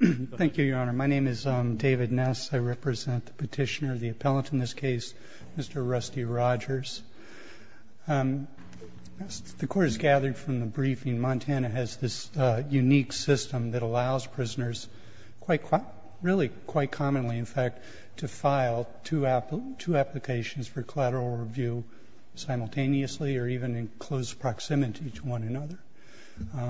Thank you, Your Honor. My name is David Ness. I represent the petitioner, the appellant in this case, Mr. Rusty Rogers. As the Court has gathered from the briefing, Montana has this unique system that allows prisoners, really quite commonly in fact, to file two applications for collateral review simultaneously or even in close proximity to one another.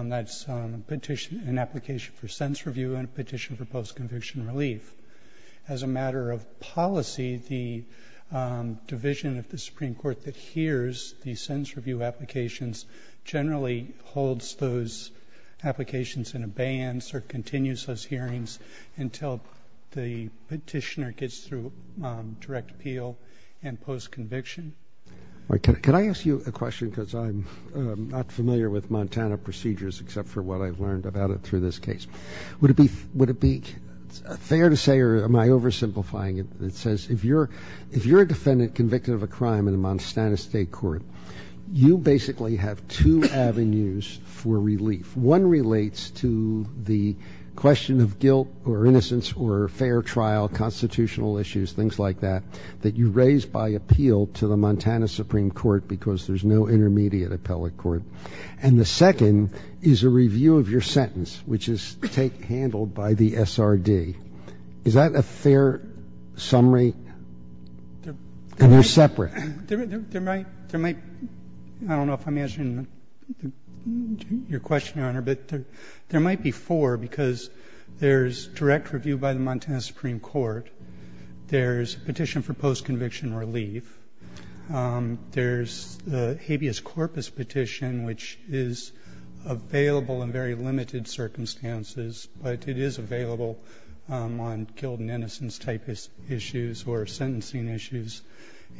That's an application for sentence review and a petition for post-conviction relief. As a matter of policy, the division of the Supreme Court that hears the sentence review applications generally holds those applications in abeyance or continues those hearings until the petitioner gets through direct appeal and post-conviction. Could I ask you a question because I'm not familiar with Montana procedures except for what I've learned about it through this case? Would it be fair to say or am I oversimplifying it? It says if you're a defendant convicted of a crime in the Montana State Court, you basically have two avenues for relief. One relates to the question of guilt or innocence or fair trial, constitutional issues, things like that, that you raise by appeal to the Montana Supreme Court because there's no intermediate appellate court, and the second is a review of your sentence, which is handled by the SRD. Is that a fair summary or separate? There might be four because there's direct review by the Montana Supreme Court. There's a petition for post-conviction relief. There's a habeas corpus petition, which is available in very limited circumstances, but it is available on guilt and innocence type issues or sentencing issues.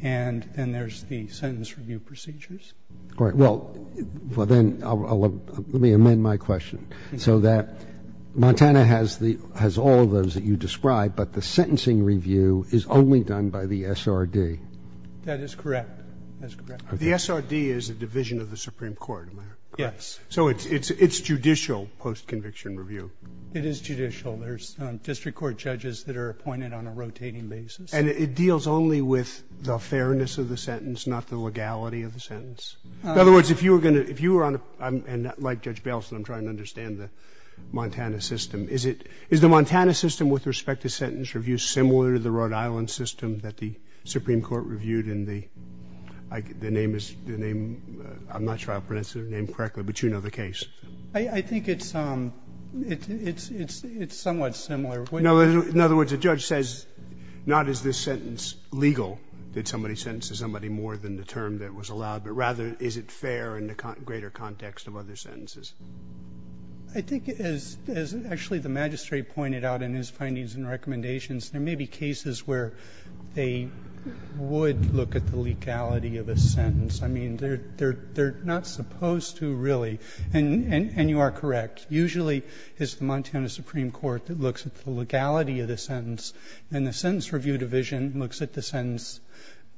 And then there's the sentence review procedures. All right. Well, then let me amend my question so that Montana has all of those that you describe, but the sentencing review is only done by the SRD. That is correct. That's correct. The SRD is a division of the Supreme Court, am I correct? Yes. So it's judicial post-conviction review. It is judicial. There's district court judges that are appointed on a rotating basis. And it deals only with the fairness of the sentence, not the legality of the sentence? In other words, if you were going to ‑‑ if you were on a ‑‑ and like Judge Baleson, I'm trying to understand the Montana system. Is the Montana system with respect to sentence review similar to the Rhode Island system that the Supreme Court reviewed in the ‑‑ the name is ‑‑ I'm not sure how to pronounce the name correctly, but you know the case. I think it's somewhat similar. In other words, the judge says not is this sentence legal, did somebody sentence somebody more than the term that was allowed, but rather is it fair in the greater context of other sentences? I think as actually the magistrate pointed out in his findings and recommendations, there may be cases where they would look at the legality of a sentence. I mean, they're not supposed to really. And you are correct. Usually it's the Montana Supreme Court that looks at the legality of the sentence, and the sentence review division looks at the sentence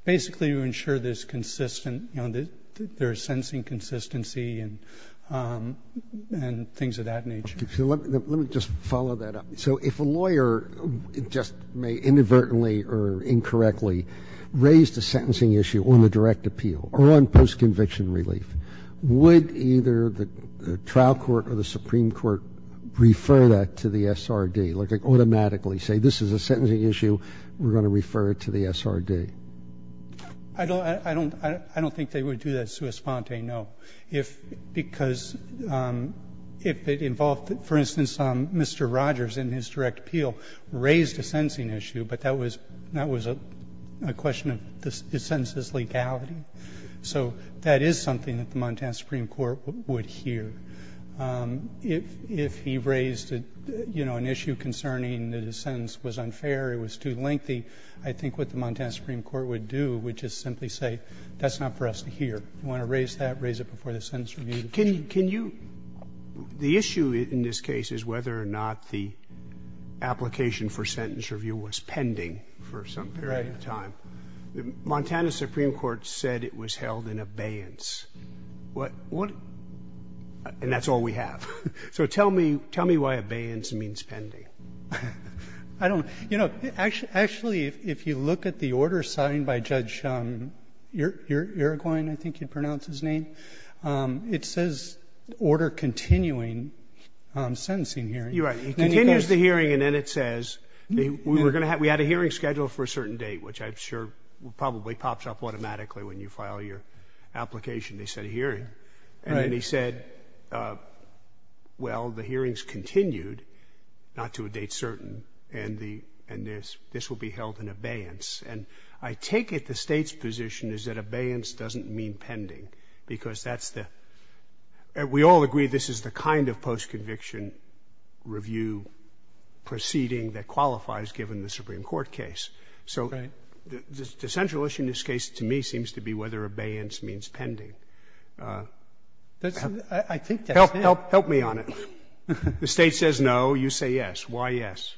basically to ensure there's consistent ‑‑ there's sensing consistency and things of that nature. Okay. So let me just follow that up. So if a lawyer just may inadvertently or incorrectly raise the sentencing issue on the direct appeal or on post‑conviction relief, would either the trial court or the Supreme Court refer that to the SRD, like automatically say this is a sentencing issue, we're going to refer it to the SRD? I don't ‑‑ I don't think they would do that sui sponte, no. If ‑‑ because if it involved, for instance, Mr. Rogers in his direct appeal raised a sentencing issue, but that was a question of the sentence's legality. So that is something that the Montana Supreme Court would hear. If he raised, you know, an issue concerning that a sentence was unfair or it was too long, what the Supreme Court would do would just simply say that's not for us to hear. If you want to raise that, raise it before the sentence review division. Can you ‑‑ the issue in this case is whether or not the application for sentence review was pending for some period of time. Right. The Montana Supreme Court said it was held in abeyance. What ‑‑ and that's all we have. So tell me why abeyance means pending. I don't know. You know, actually, if you look at the order signed by Judge Uruguayan, I think you'd pronounce his name, it says order continuing sentencing hearing. You're right. He continues the hearing, and then it says we were going to have ‑‑ we had a hearing scheduled for a certain date, which I'm sure probably pops up automatically when you file your application. They said hearing. Right. And he said, well, the hearing's continued, not to a date certain, and this will be held in abeyance. And I take it the State's position is that abeyance doesn't mean pending because that's the ‑‑ we all agree this is the kind of postconviction review proceeding that qualifies given the Supreme Court case. Right. So the central issue in this case to me seems to be whether abeyance means pending. I think that's it. Help me on it. The State says no. You say yes. Why yes?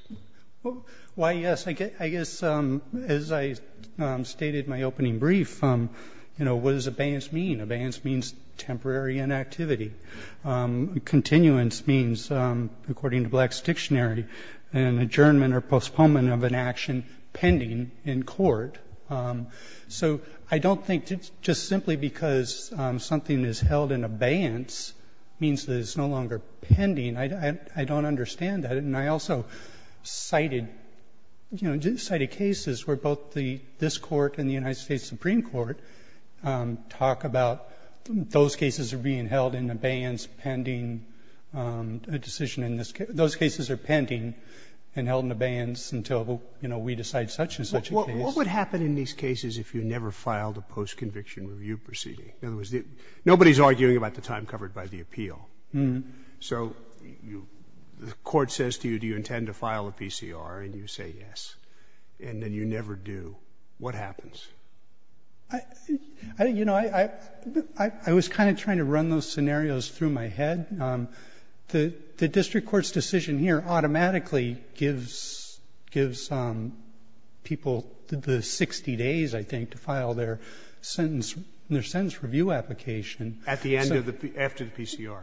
Why yes? I guess as I stated in my opening brief, you know, what does abeyance mean? Abeyance means temporary inactivity. Continuance means, according to Black's dictionary, an adjournment or postponement of an action pending in court. So I don't think just simply because something is held in abeyance means that it's no longer pending. I don't understand that. And I also cited, you know, cited cases where both this Court and the United States Supreme Court talk about those cases are being held in abeyance pending a decision in this ‑‑ those cases are pending and held in abeyance until, you know, we decide such and such a case. What would happen in these cases if you never filed a postconviction review proceeding? In other words, nobody is arguing about the time covered by the appeal. So the Court says to you, do you intend to file a PCR? And you say yes. And then you never do. What happens? You know, I was kind of trying to run those scenarios through my head. The district court's decision here automatically gives people the 60 days, I think, to file their sentence ‑‑ their sentence review application. At the end of the ‑‑ after the PCR.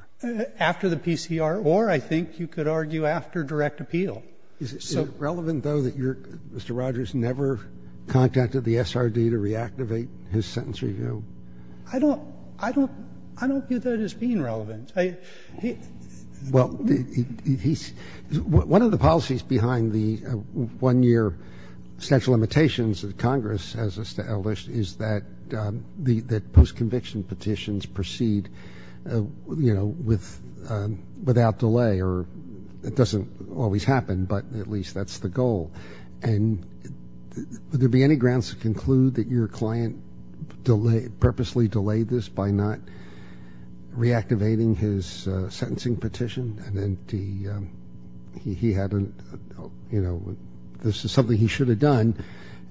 After the PCR, or I think you could argue after direct appeal. Is it relevant, though, that you're ‑‑ Mr. Rogers never contacted the SRD to reactivate his sentence review? I don't ‑‑ I don't view that as being relevant. Well, he's ‑‑ one of the policies behind the one‑year statute of limitations that Congress has established is that the postconviction petitions proceed, you know, with ‑‑ without delay. Or it doesn't always happen, but at least that's the goal. And would there be any grounds to conclude that your client delayed, purposely delayed this by not reactivating his sentencing petition? And then he had a, you know, this is something he should have done,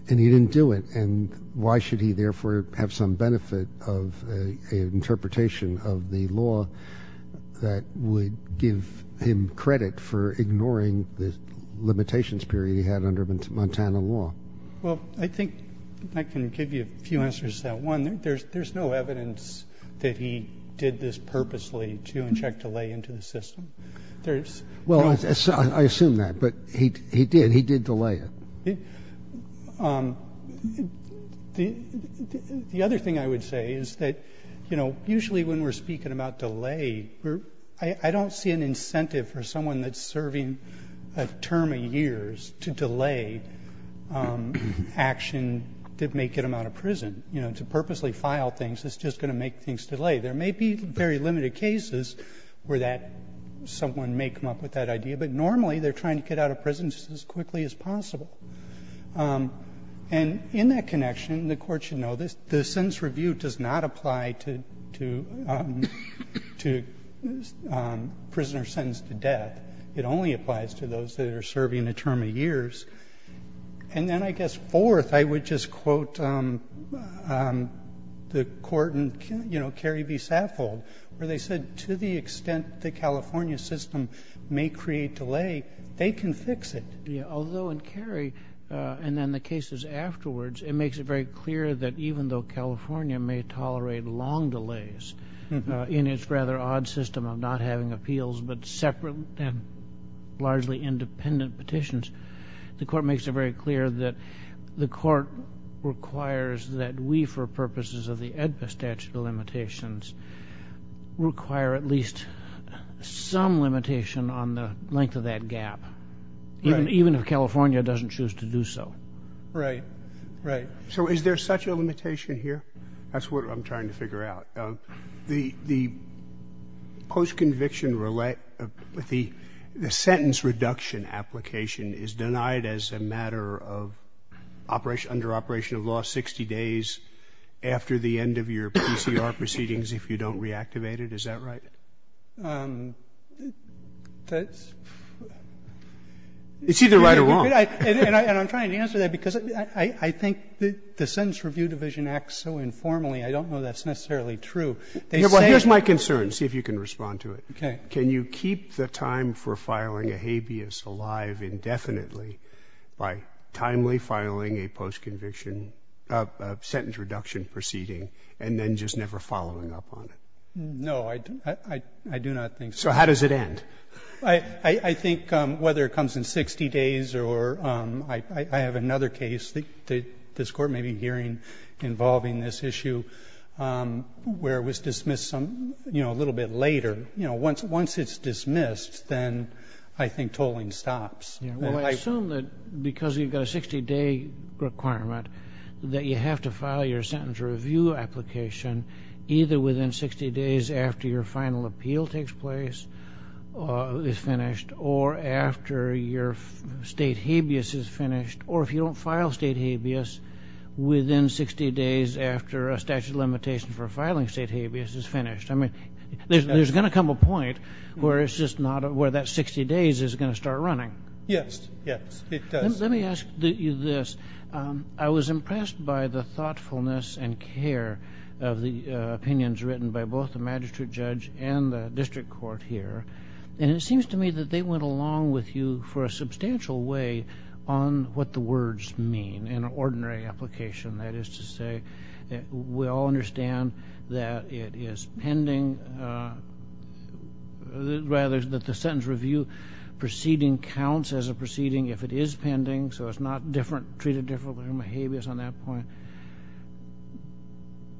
and he didn't do it. And why should he therefore have some benefit of an interpretation of the law that would give him credit for ignoring the limitations period he had under Montana law? Well, I think I can give you a few answers to that. One, there's no evidence that he did this purposely to inject delay into the system. There's ‑‑ Well, I assume that, but he did. He did delay it. The other thing I would say is that, you know, usually when we're speaking about delay, I don't see an incentive for someone that's serving a term of years to delay action that may get them out of prison. You know, to purposely file things is just going to make things delay. There may be very limited cases where that ‑‑ someone may come up with that idea, but normally they're trying to get out of prison just as quickly as possible. And in that connection, the Court should know this, the sentence review does not apply to ‑‑ to prisoners sentenced to death. It only applies to those that are serving a term of years. And then I guess fourth, I would just quote the court in, you know, Cary v. Saffold where they said to the extent the California system may create delay, they can fix it. Although in Cary, and then the cases afterwards, it makes it very clear that even though California may tolerate long delays in its rather odd system of not having appeals but separate and largely independent petitions, the court makes it very clear that the court requires that we, for purposes of the AEDPA statute of limitations, require at least some limitation on the length of that gap. Even if California doesn't choose to do so. Right. Right. So is there such a limitation here? That's what I'm trying to figure out. The postconviction ‑‑ the sentence reduction application is denied as a matter of operation ‑‑ under operation of law 60 days after the end of your PCR proceedings if you don't reactivate it. Is that right? That's ‑‑ It's either right or wrong. And I'm trying to answer that because I think the sentence review division acts so informally, I don't know that's necessarily true. They say ‑‑ Well, here's my concern. See if you can respond to it. Okay. Can you keep the time for filing a habeas alive indefinitely by timely filing a postconviction sentence reduction proceeding and then just never following up on it? No, I do not think so. So how does it end? I think whether it comes in 60 days or ‑‑ I have another case that this Court may be hearing involving this issue where it was dismissed a little bit later. Once it's dismissed, then I think tolling stops. Well, I assume that because you've got a 60‑day requirement that you have to file your sentence review application either within 60 days after your final appeal takes place is finished or after your state habeas is finished or if you don't file state habeas within 60 days after a statute of limitations for filing state habeas is finished. I mean, there's going to come a point where it's just not ‑‑ where that 60 days is going to start running. Yes. Yes, it does. Let me ask you this. I was impressed by the thoughtfulness and care of the opinions written by both the Magistrate Judge and the District Court here. And it seems to me that they went along with you for a substantial way on what the words mean in an ordinary application. That is to say, we all understand that it is pending ‑‑ rather, that the sentence review proceeding counts as a proceeding if it is pending, so it's not treated differently from a habeas on that point.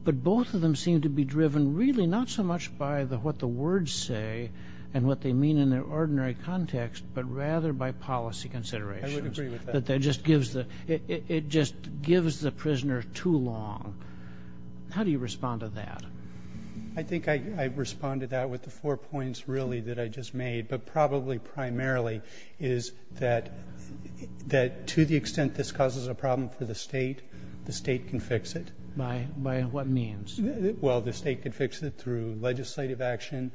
But both of them seem to be driven really not so much by what the words say and what they mean in their ordinary context, but rather by policy considerations. I would agree with that. That that just gives the ‑‑ it just gives the prisoner too long. How do you respond to that? I think I respond to that with the four points really that I just made, but probably primarily is that to the extent this causes a problem for the State, the State can fix it. By what means? Well, the State can fix it through legislative action.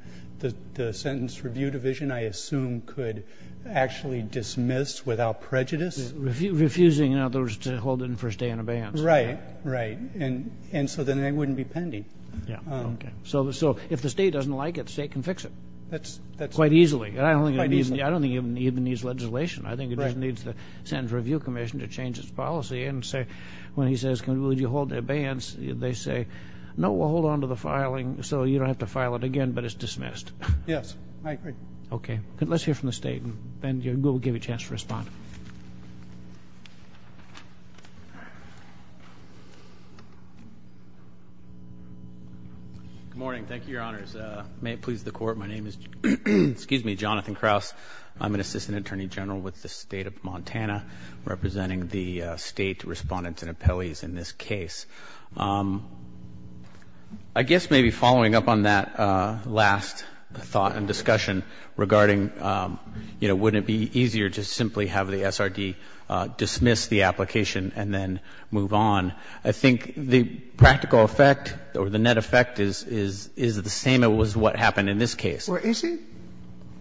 The Sentence Review Division, I assume, could actually dismiss without prejudice. Refusing, in other words, to hold it for a stay in abeyance. Right, right. And so then it wouldn't be pending. Yeah, okay. So if the State doesn't like it, the State can fix it quite easily. I don't think it even needs legislation. I think it just needs the Sentence Review Commission to change its policy and say, when he says, would you hold it in abeyance, they say, no, we'll hold on to the filing so you don't have to file it again, but it's dismissed. Yes, I agree. Okay. Let's hear from the State and then we'll give you a chance to respond. Good morning. Thank you, Your Honors. May it please the Court, my name is Jonathan Krauss. I'm an Assistant Attorney General with the State of Montana representing the State Respondents and Appellees in this case. I guess maybe following up on that last thought and discussion regarding, you know, wouldn't it be easier to simply have the SRD dismiss the application and then move on, I think the practical effect or the net effect is the same as what happened in this case. Well, is it?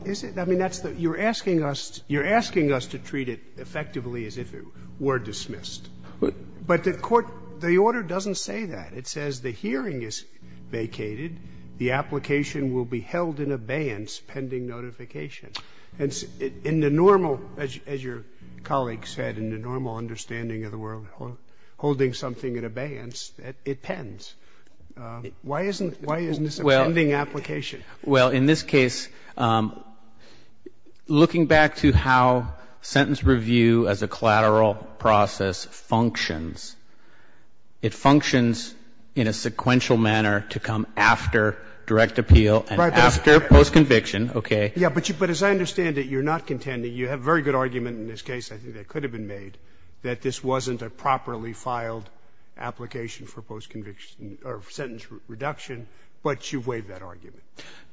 Is it? I mean, you're asking us to treat it effectively as if it were dismissed. But the Court, the order doesn't say that. It says the hearing is vacated, the application will be held in abeyance pending notification. In the normal, as your colleague said, in the normal understanding of the world, holding something in abeyance, it pens. Why isn't this a pending application? Well, in this case, looking back to how sentence review as a collateral process functions, it functions in a sequential manner to come after direct appeal and after postconviction. Okay? Yeah. But as I understand it, you're not contending. You have a very good argument in this case, I think that could have been made, that this wasn't a properly filed application for postconviction or sentence reduction, but you've waived that argument.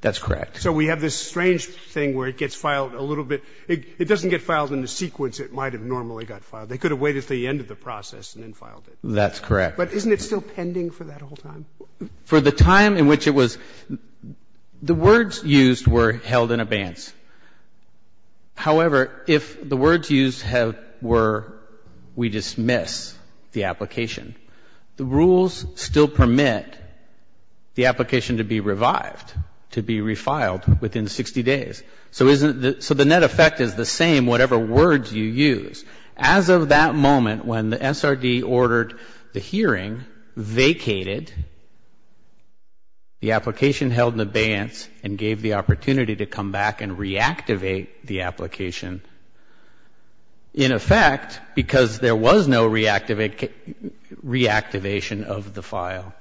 That's correct. So we have this strange thing where it gets filed a little bit. It doesn't get filed in the sequence it might have normally got filed. They could have waited until the end of the process and then filed it. That's correct. But isn't it still pending for that whole time? For the time in which it was the words used were held in abeyance. However, if the words used were we dismiss the application, the rules still permit the application to be revived, to be refiled within 60 days. So the net effect is the same whatever words you use. As of that moment, when the SRD ordered the hearing, vacated, the application held in abeyance and gave the opportunity to come back and reactivate the application in effect because there was no reactivation of the file.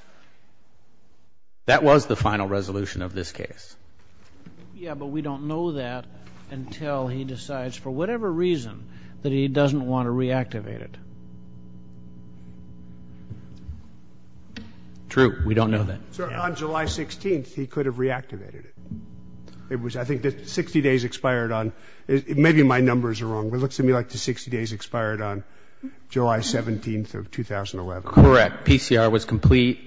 That was the final resolution of this case. Yeah, but we don't know that until he decides for whatever reason that he doesn't want to reactivate it. True. We don't know that. So on July 16th, he could have reactivated it. I think 60 days expired on, maybe my numbers are wrong. It looks to me like the 60 days expired on July 17th of 2011. Correct. PCR was complete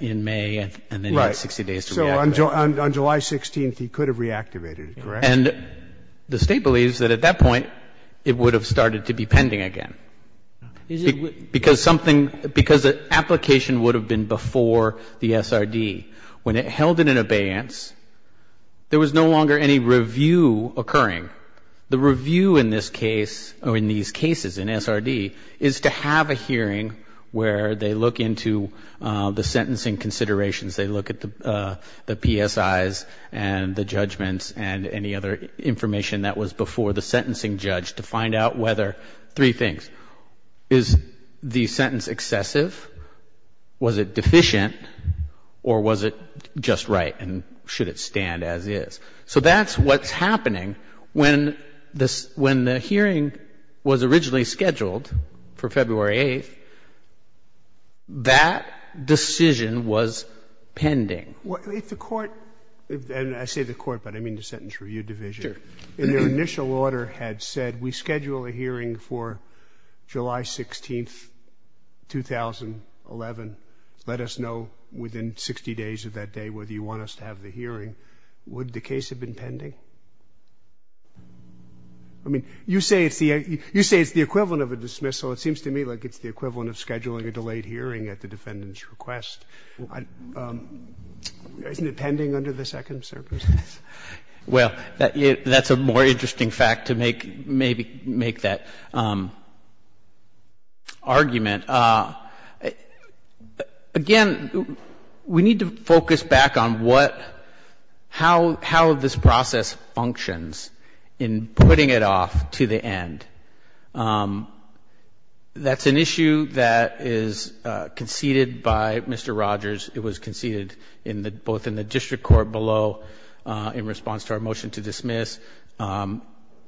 in May and then he had 60 days to reactivate it. So on July 16th, he could have reactivated it, correct? And the State believes that at that point, it would have started to be pending again. Because something, because the application would have been before the SRD. When it held it in abeyance, there was no longer any review occurring. The review in this case, or in these cases in SRD, is to have a hearing where they look into the sentencing considerations. They look at the PSIs and the judgments and any other information that was before the sentencing judge to find out whether, three things, is the sentence excessive, was it just right, and should it stand as is. So that's what's happening. When the hearing was originally scheduled for February 8th, that decision was pending. If the Court, and I say the Court, but I mean the Sentence Review Division. Sure. And their initial order had said, we schedule a hearing for July 16th, 2011. Let us know within 60 days of that day whether you want us to have the hearing. Would the case have been pending? I mean, you say it's the equivalent of a dismissal. It seems to me like it's the equivalent of scheduling a delayed hearing at the defendant's request. Isn't it pending under the Second Circuit? Well, that's a more interesting fact to make, maybe make that argument. Again, we need to focus back on what, how, how this process functions in putting it off to the end. That's an issue that is conceded by Mr. Rogers. It was conceded in the, both in the district court below in response to our motion to dismiss,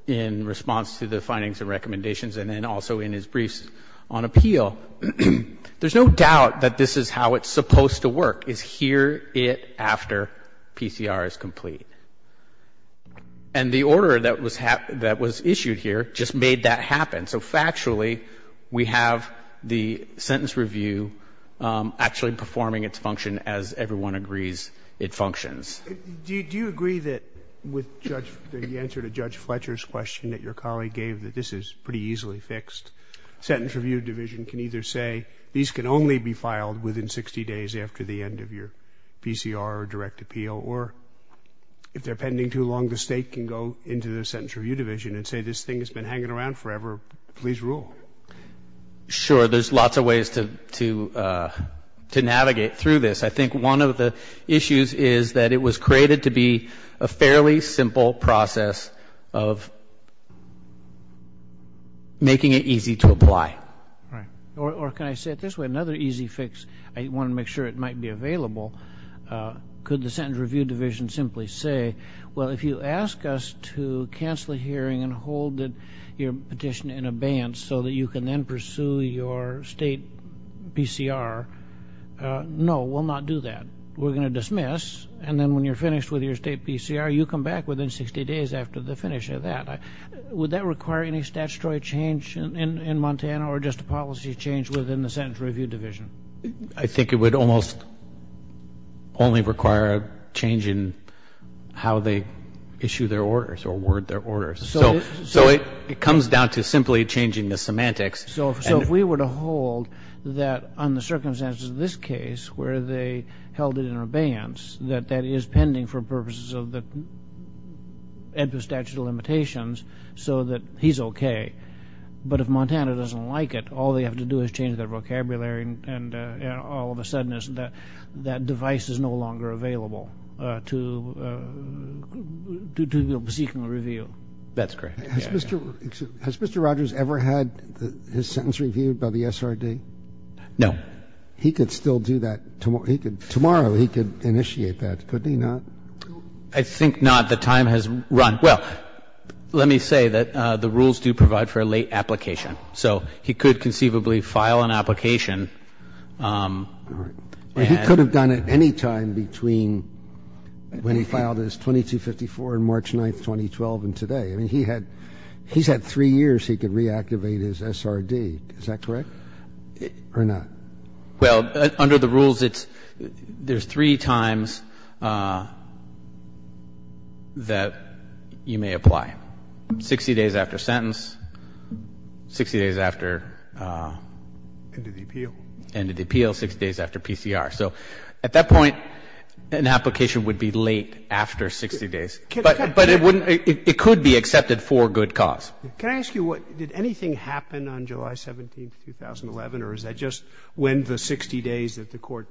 in response to the findings and recommendations, and then also in his briefs on appeal. There's no doubt that this is how it's supposed to work, is hear it after PCR is complete. And the order that was issued here just made that happen. So factually, we have the sentence review actually performing its function as everyone agrees it functions. Do you agree that with the answer to Judge Fletcher's question that your colleague gave that this is pretty easily fixed, the Sentence Review Division can either say these can only be filed within 60 days after the end of your PCR or direct appeal, or if they're pending too long, the State can go into the Sentence Review Division and say this thing has been hanging around forever. Please rule. Sure. There's lots of ways to navigate through this. I think one of the issues is that it was created to be a fairly simple process of making it easy to apply. Right. Or can I say it this way, another easy fix, I want to make sure it might be available, could the Sentence Review Division simply say, well, if you ask us to cancel the hearing and hold your petition in abeyance so that you can then pursue your State PCR, no, we'll not do that. We're going to dismiss. And then when you're finished with your State PCR, you come back within 60 days after the finish of that. Would that require any statutory change in Montana or just a policy change within the Sentence Review Division? I think it would almost only require a change in how they issue their orders or word their orders. So it comes down to simply changing the semantics. So if we were to hold that on the circumstances of this case where they held it in abeyance, that that is pending for purposes of the statute of limitations so that he's okay. But if Montana doesn't like it, all they have to do is change their vocabulary and all of a sudden that device is no longer available to seek a review. That's correct. Has Mr. Rogers ever had his sentence reviewed by the SRD? No. He could still do that. Tomorrow he could initiate that, couldn't he not? I think not. The time has run. Well, let me say that the rules do provide for a late application. So he could conceivably file an application. All right. But he could have done it any time between when he filed his 2254 on March 9th, 2012 and today. I mean, he's had three years he could reactivate his SRD. Is that correct or not? Well, under the rules, there's three times that you may apply, 60 days after sentence, 60 days after end of the appeal, 60 days after PCR. So at that point, an application would be late after 60 days. But it wouldn't be, it could be accepted for good cause. Can I ask you what, did anything happen on July 17th, 2011, or is that just when the 60 days that the court,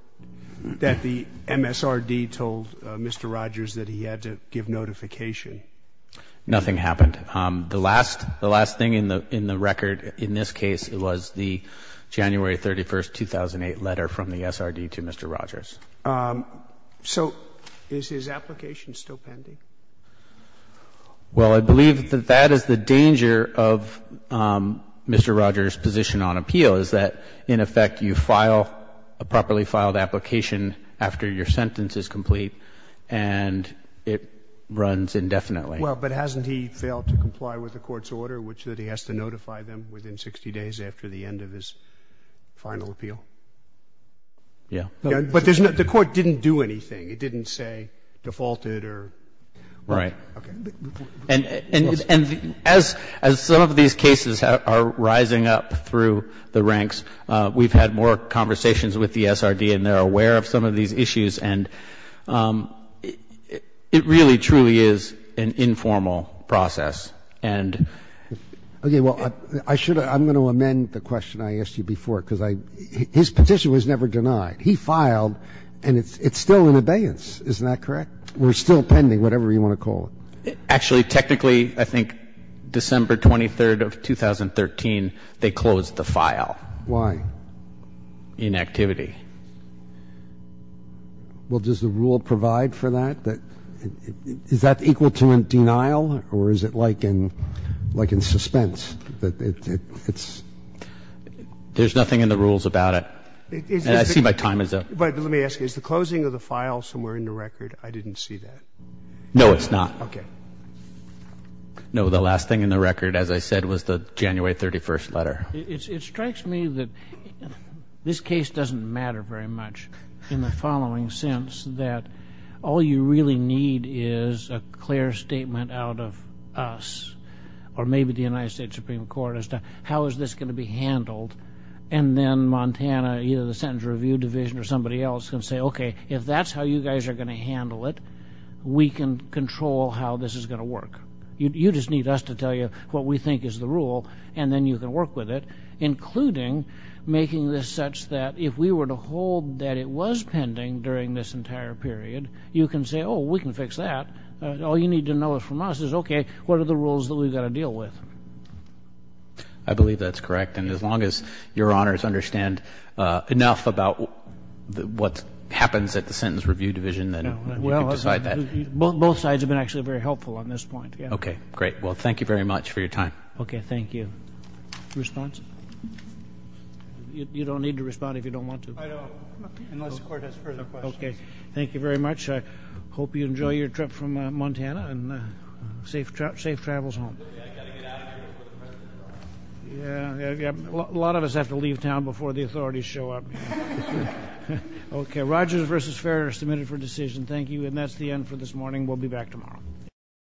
that the MSRD told Mr. Rogers that he had to give notification? Nothing happened. The last thing in the record in this case was the January 31st, 2008 letter from the SRD to Mr. Rogers. So is his application still pending? Well, I believe that that is the danger of Mr. Rogers' position on appeal, is that in effect you file a properly filed application after your sentence is complete and it runs indefinitely. Well, but hasn't he failed to comply with the court's order, which is that he has to notify them within 60 days after the end of his final appeal? Yes. But there's no, the court didn't do anything. It didn't say defaulted or. Right. Okay. And as some of these cases are rising up through the ranks, we've had more conversations with the SRD and they're aware of some of these issues and it really truly is an informal process and. Okay. Well, I should, I'm going to amend the question I asked you before because I, his petition was never denied. He filed and it's still in abeyance. Isn't that correct? We're still pending, whatever you want to call it. Actually, technically, I think December 23rd of 2013, they closed the file. Why? Inactivity. Well, does the rule provide for that? Is that equal to a denial or is it like in suspense that it's. There's nothing in the rules about it. I see my time is up. But let me ask you, is the closing of the file somewhere in the record? I didn't see that. No, it's not. Okay. No, the last thing in the record, as I said, was the January 31st letter. It strikes me that this case doesn't matter very much in the following sense that all you really need is a clear statement out of us or maybe the United States Supreme Court as to how is this going to be handled. And then Montana, either the Sentence Review Division or somebody else can say, okay, if that's how you guys are going to handle it, we can control how this is going to work. You just need us to tell you what we think is the rule and then you can work with it, including making this such that if we were to hold that it was pending during this entire period, you can say, oh, we can fix that. All you need to know from us is, okay, what are the rules that we've got to deal with? I believe that's correct. And as long as Your Honors understand enough about what happens at the Sentence Review Division, then you can decide that. Both sides have been actually very helpful on this point. Okay. Great. Well, thank you very much for your time. Okay. Thank you. Response? You don't need to respond if you don't want to. I don't, unless the Court has further questions. Okay. Thank you very much. I hope you enjoy your trip from Montana and safe travels home. I've got to get out of here before the President arrives. Yeah. A lot of us have to leave town before the authorities show up. Okay. Rogers v. Ferrer, submitted for decision. Thank you. And that's the end for this morning. We'll be back tomorrow.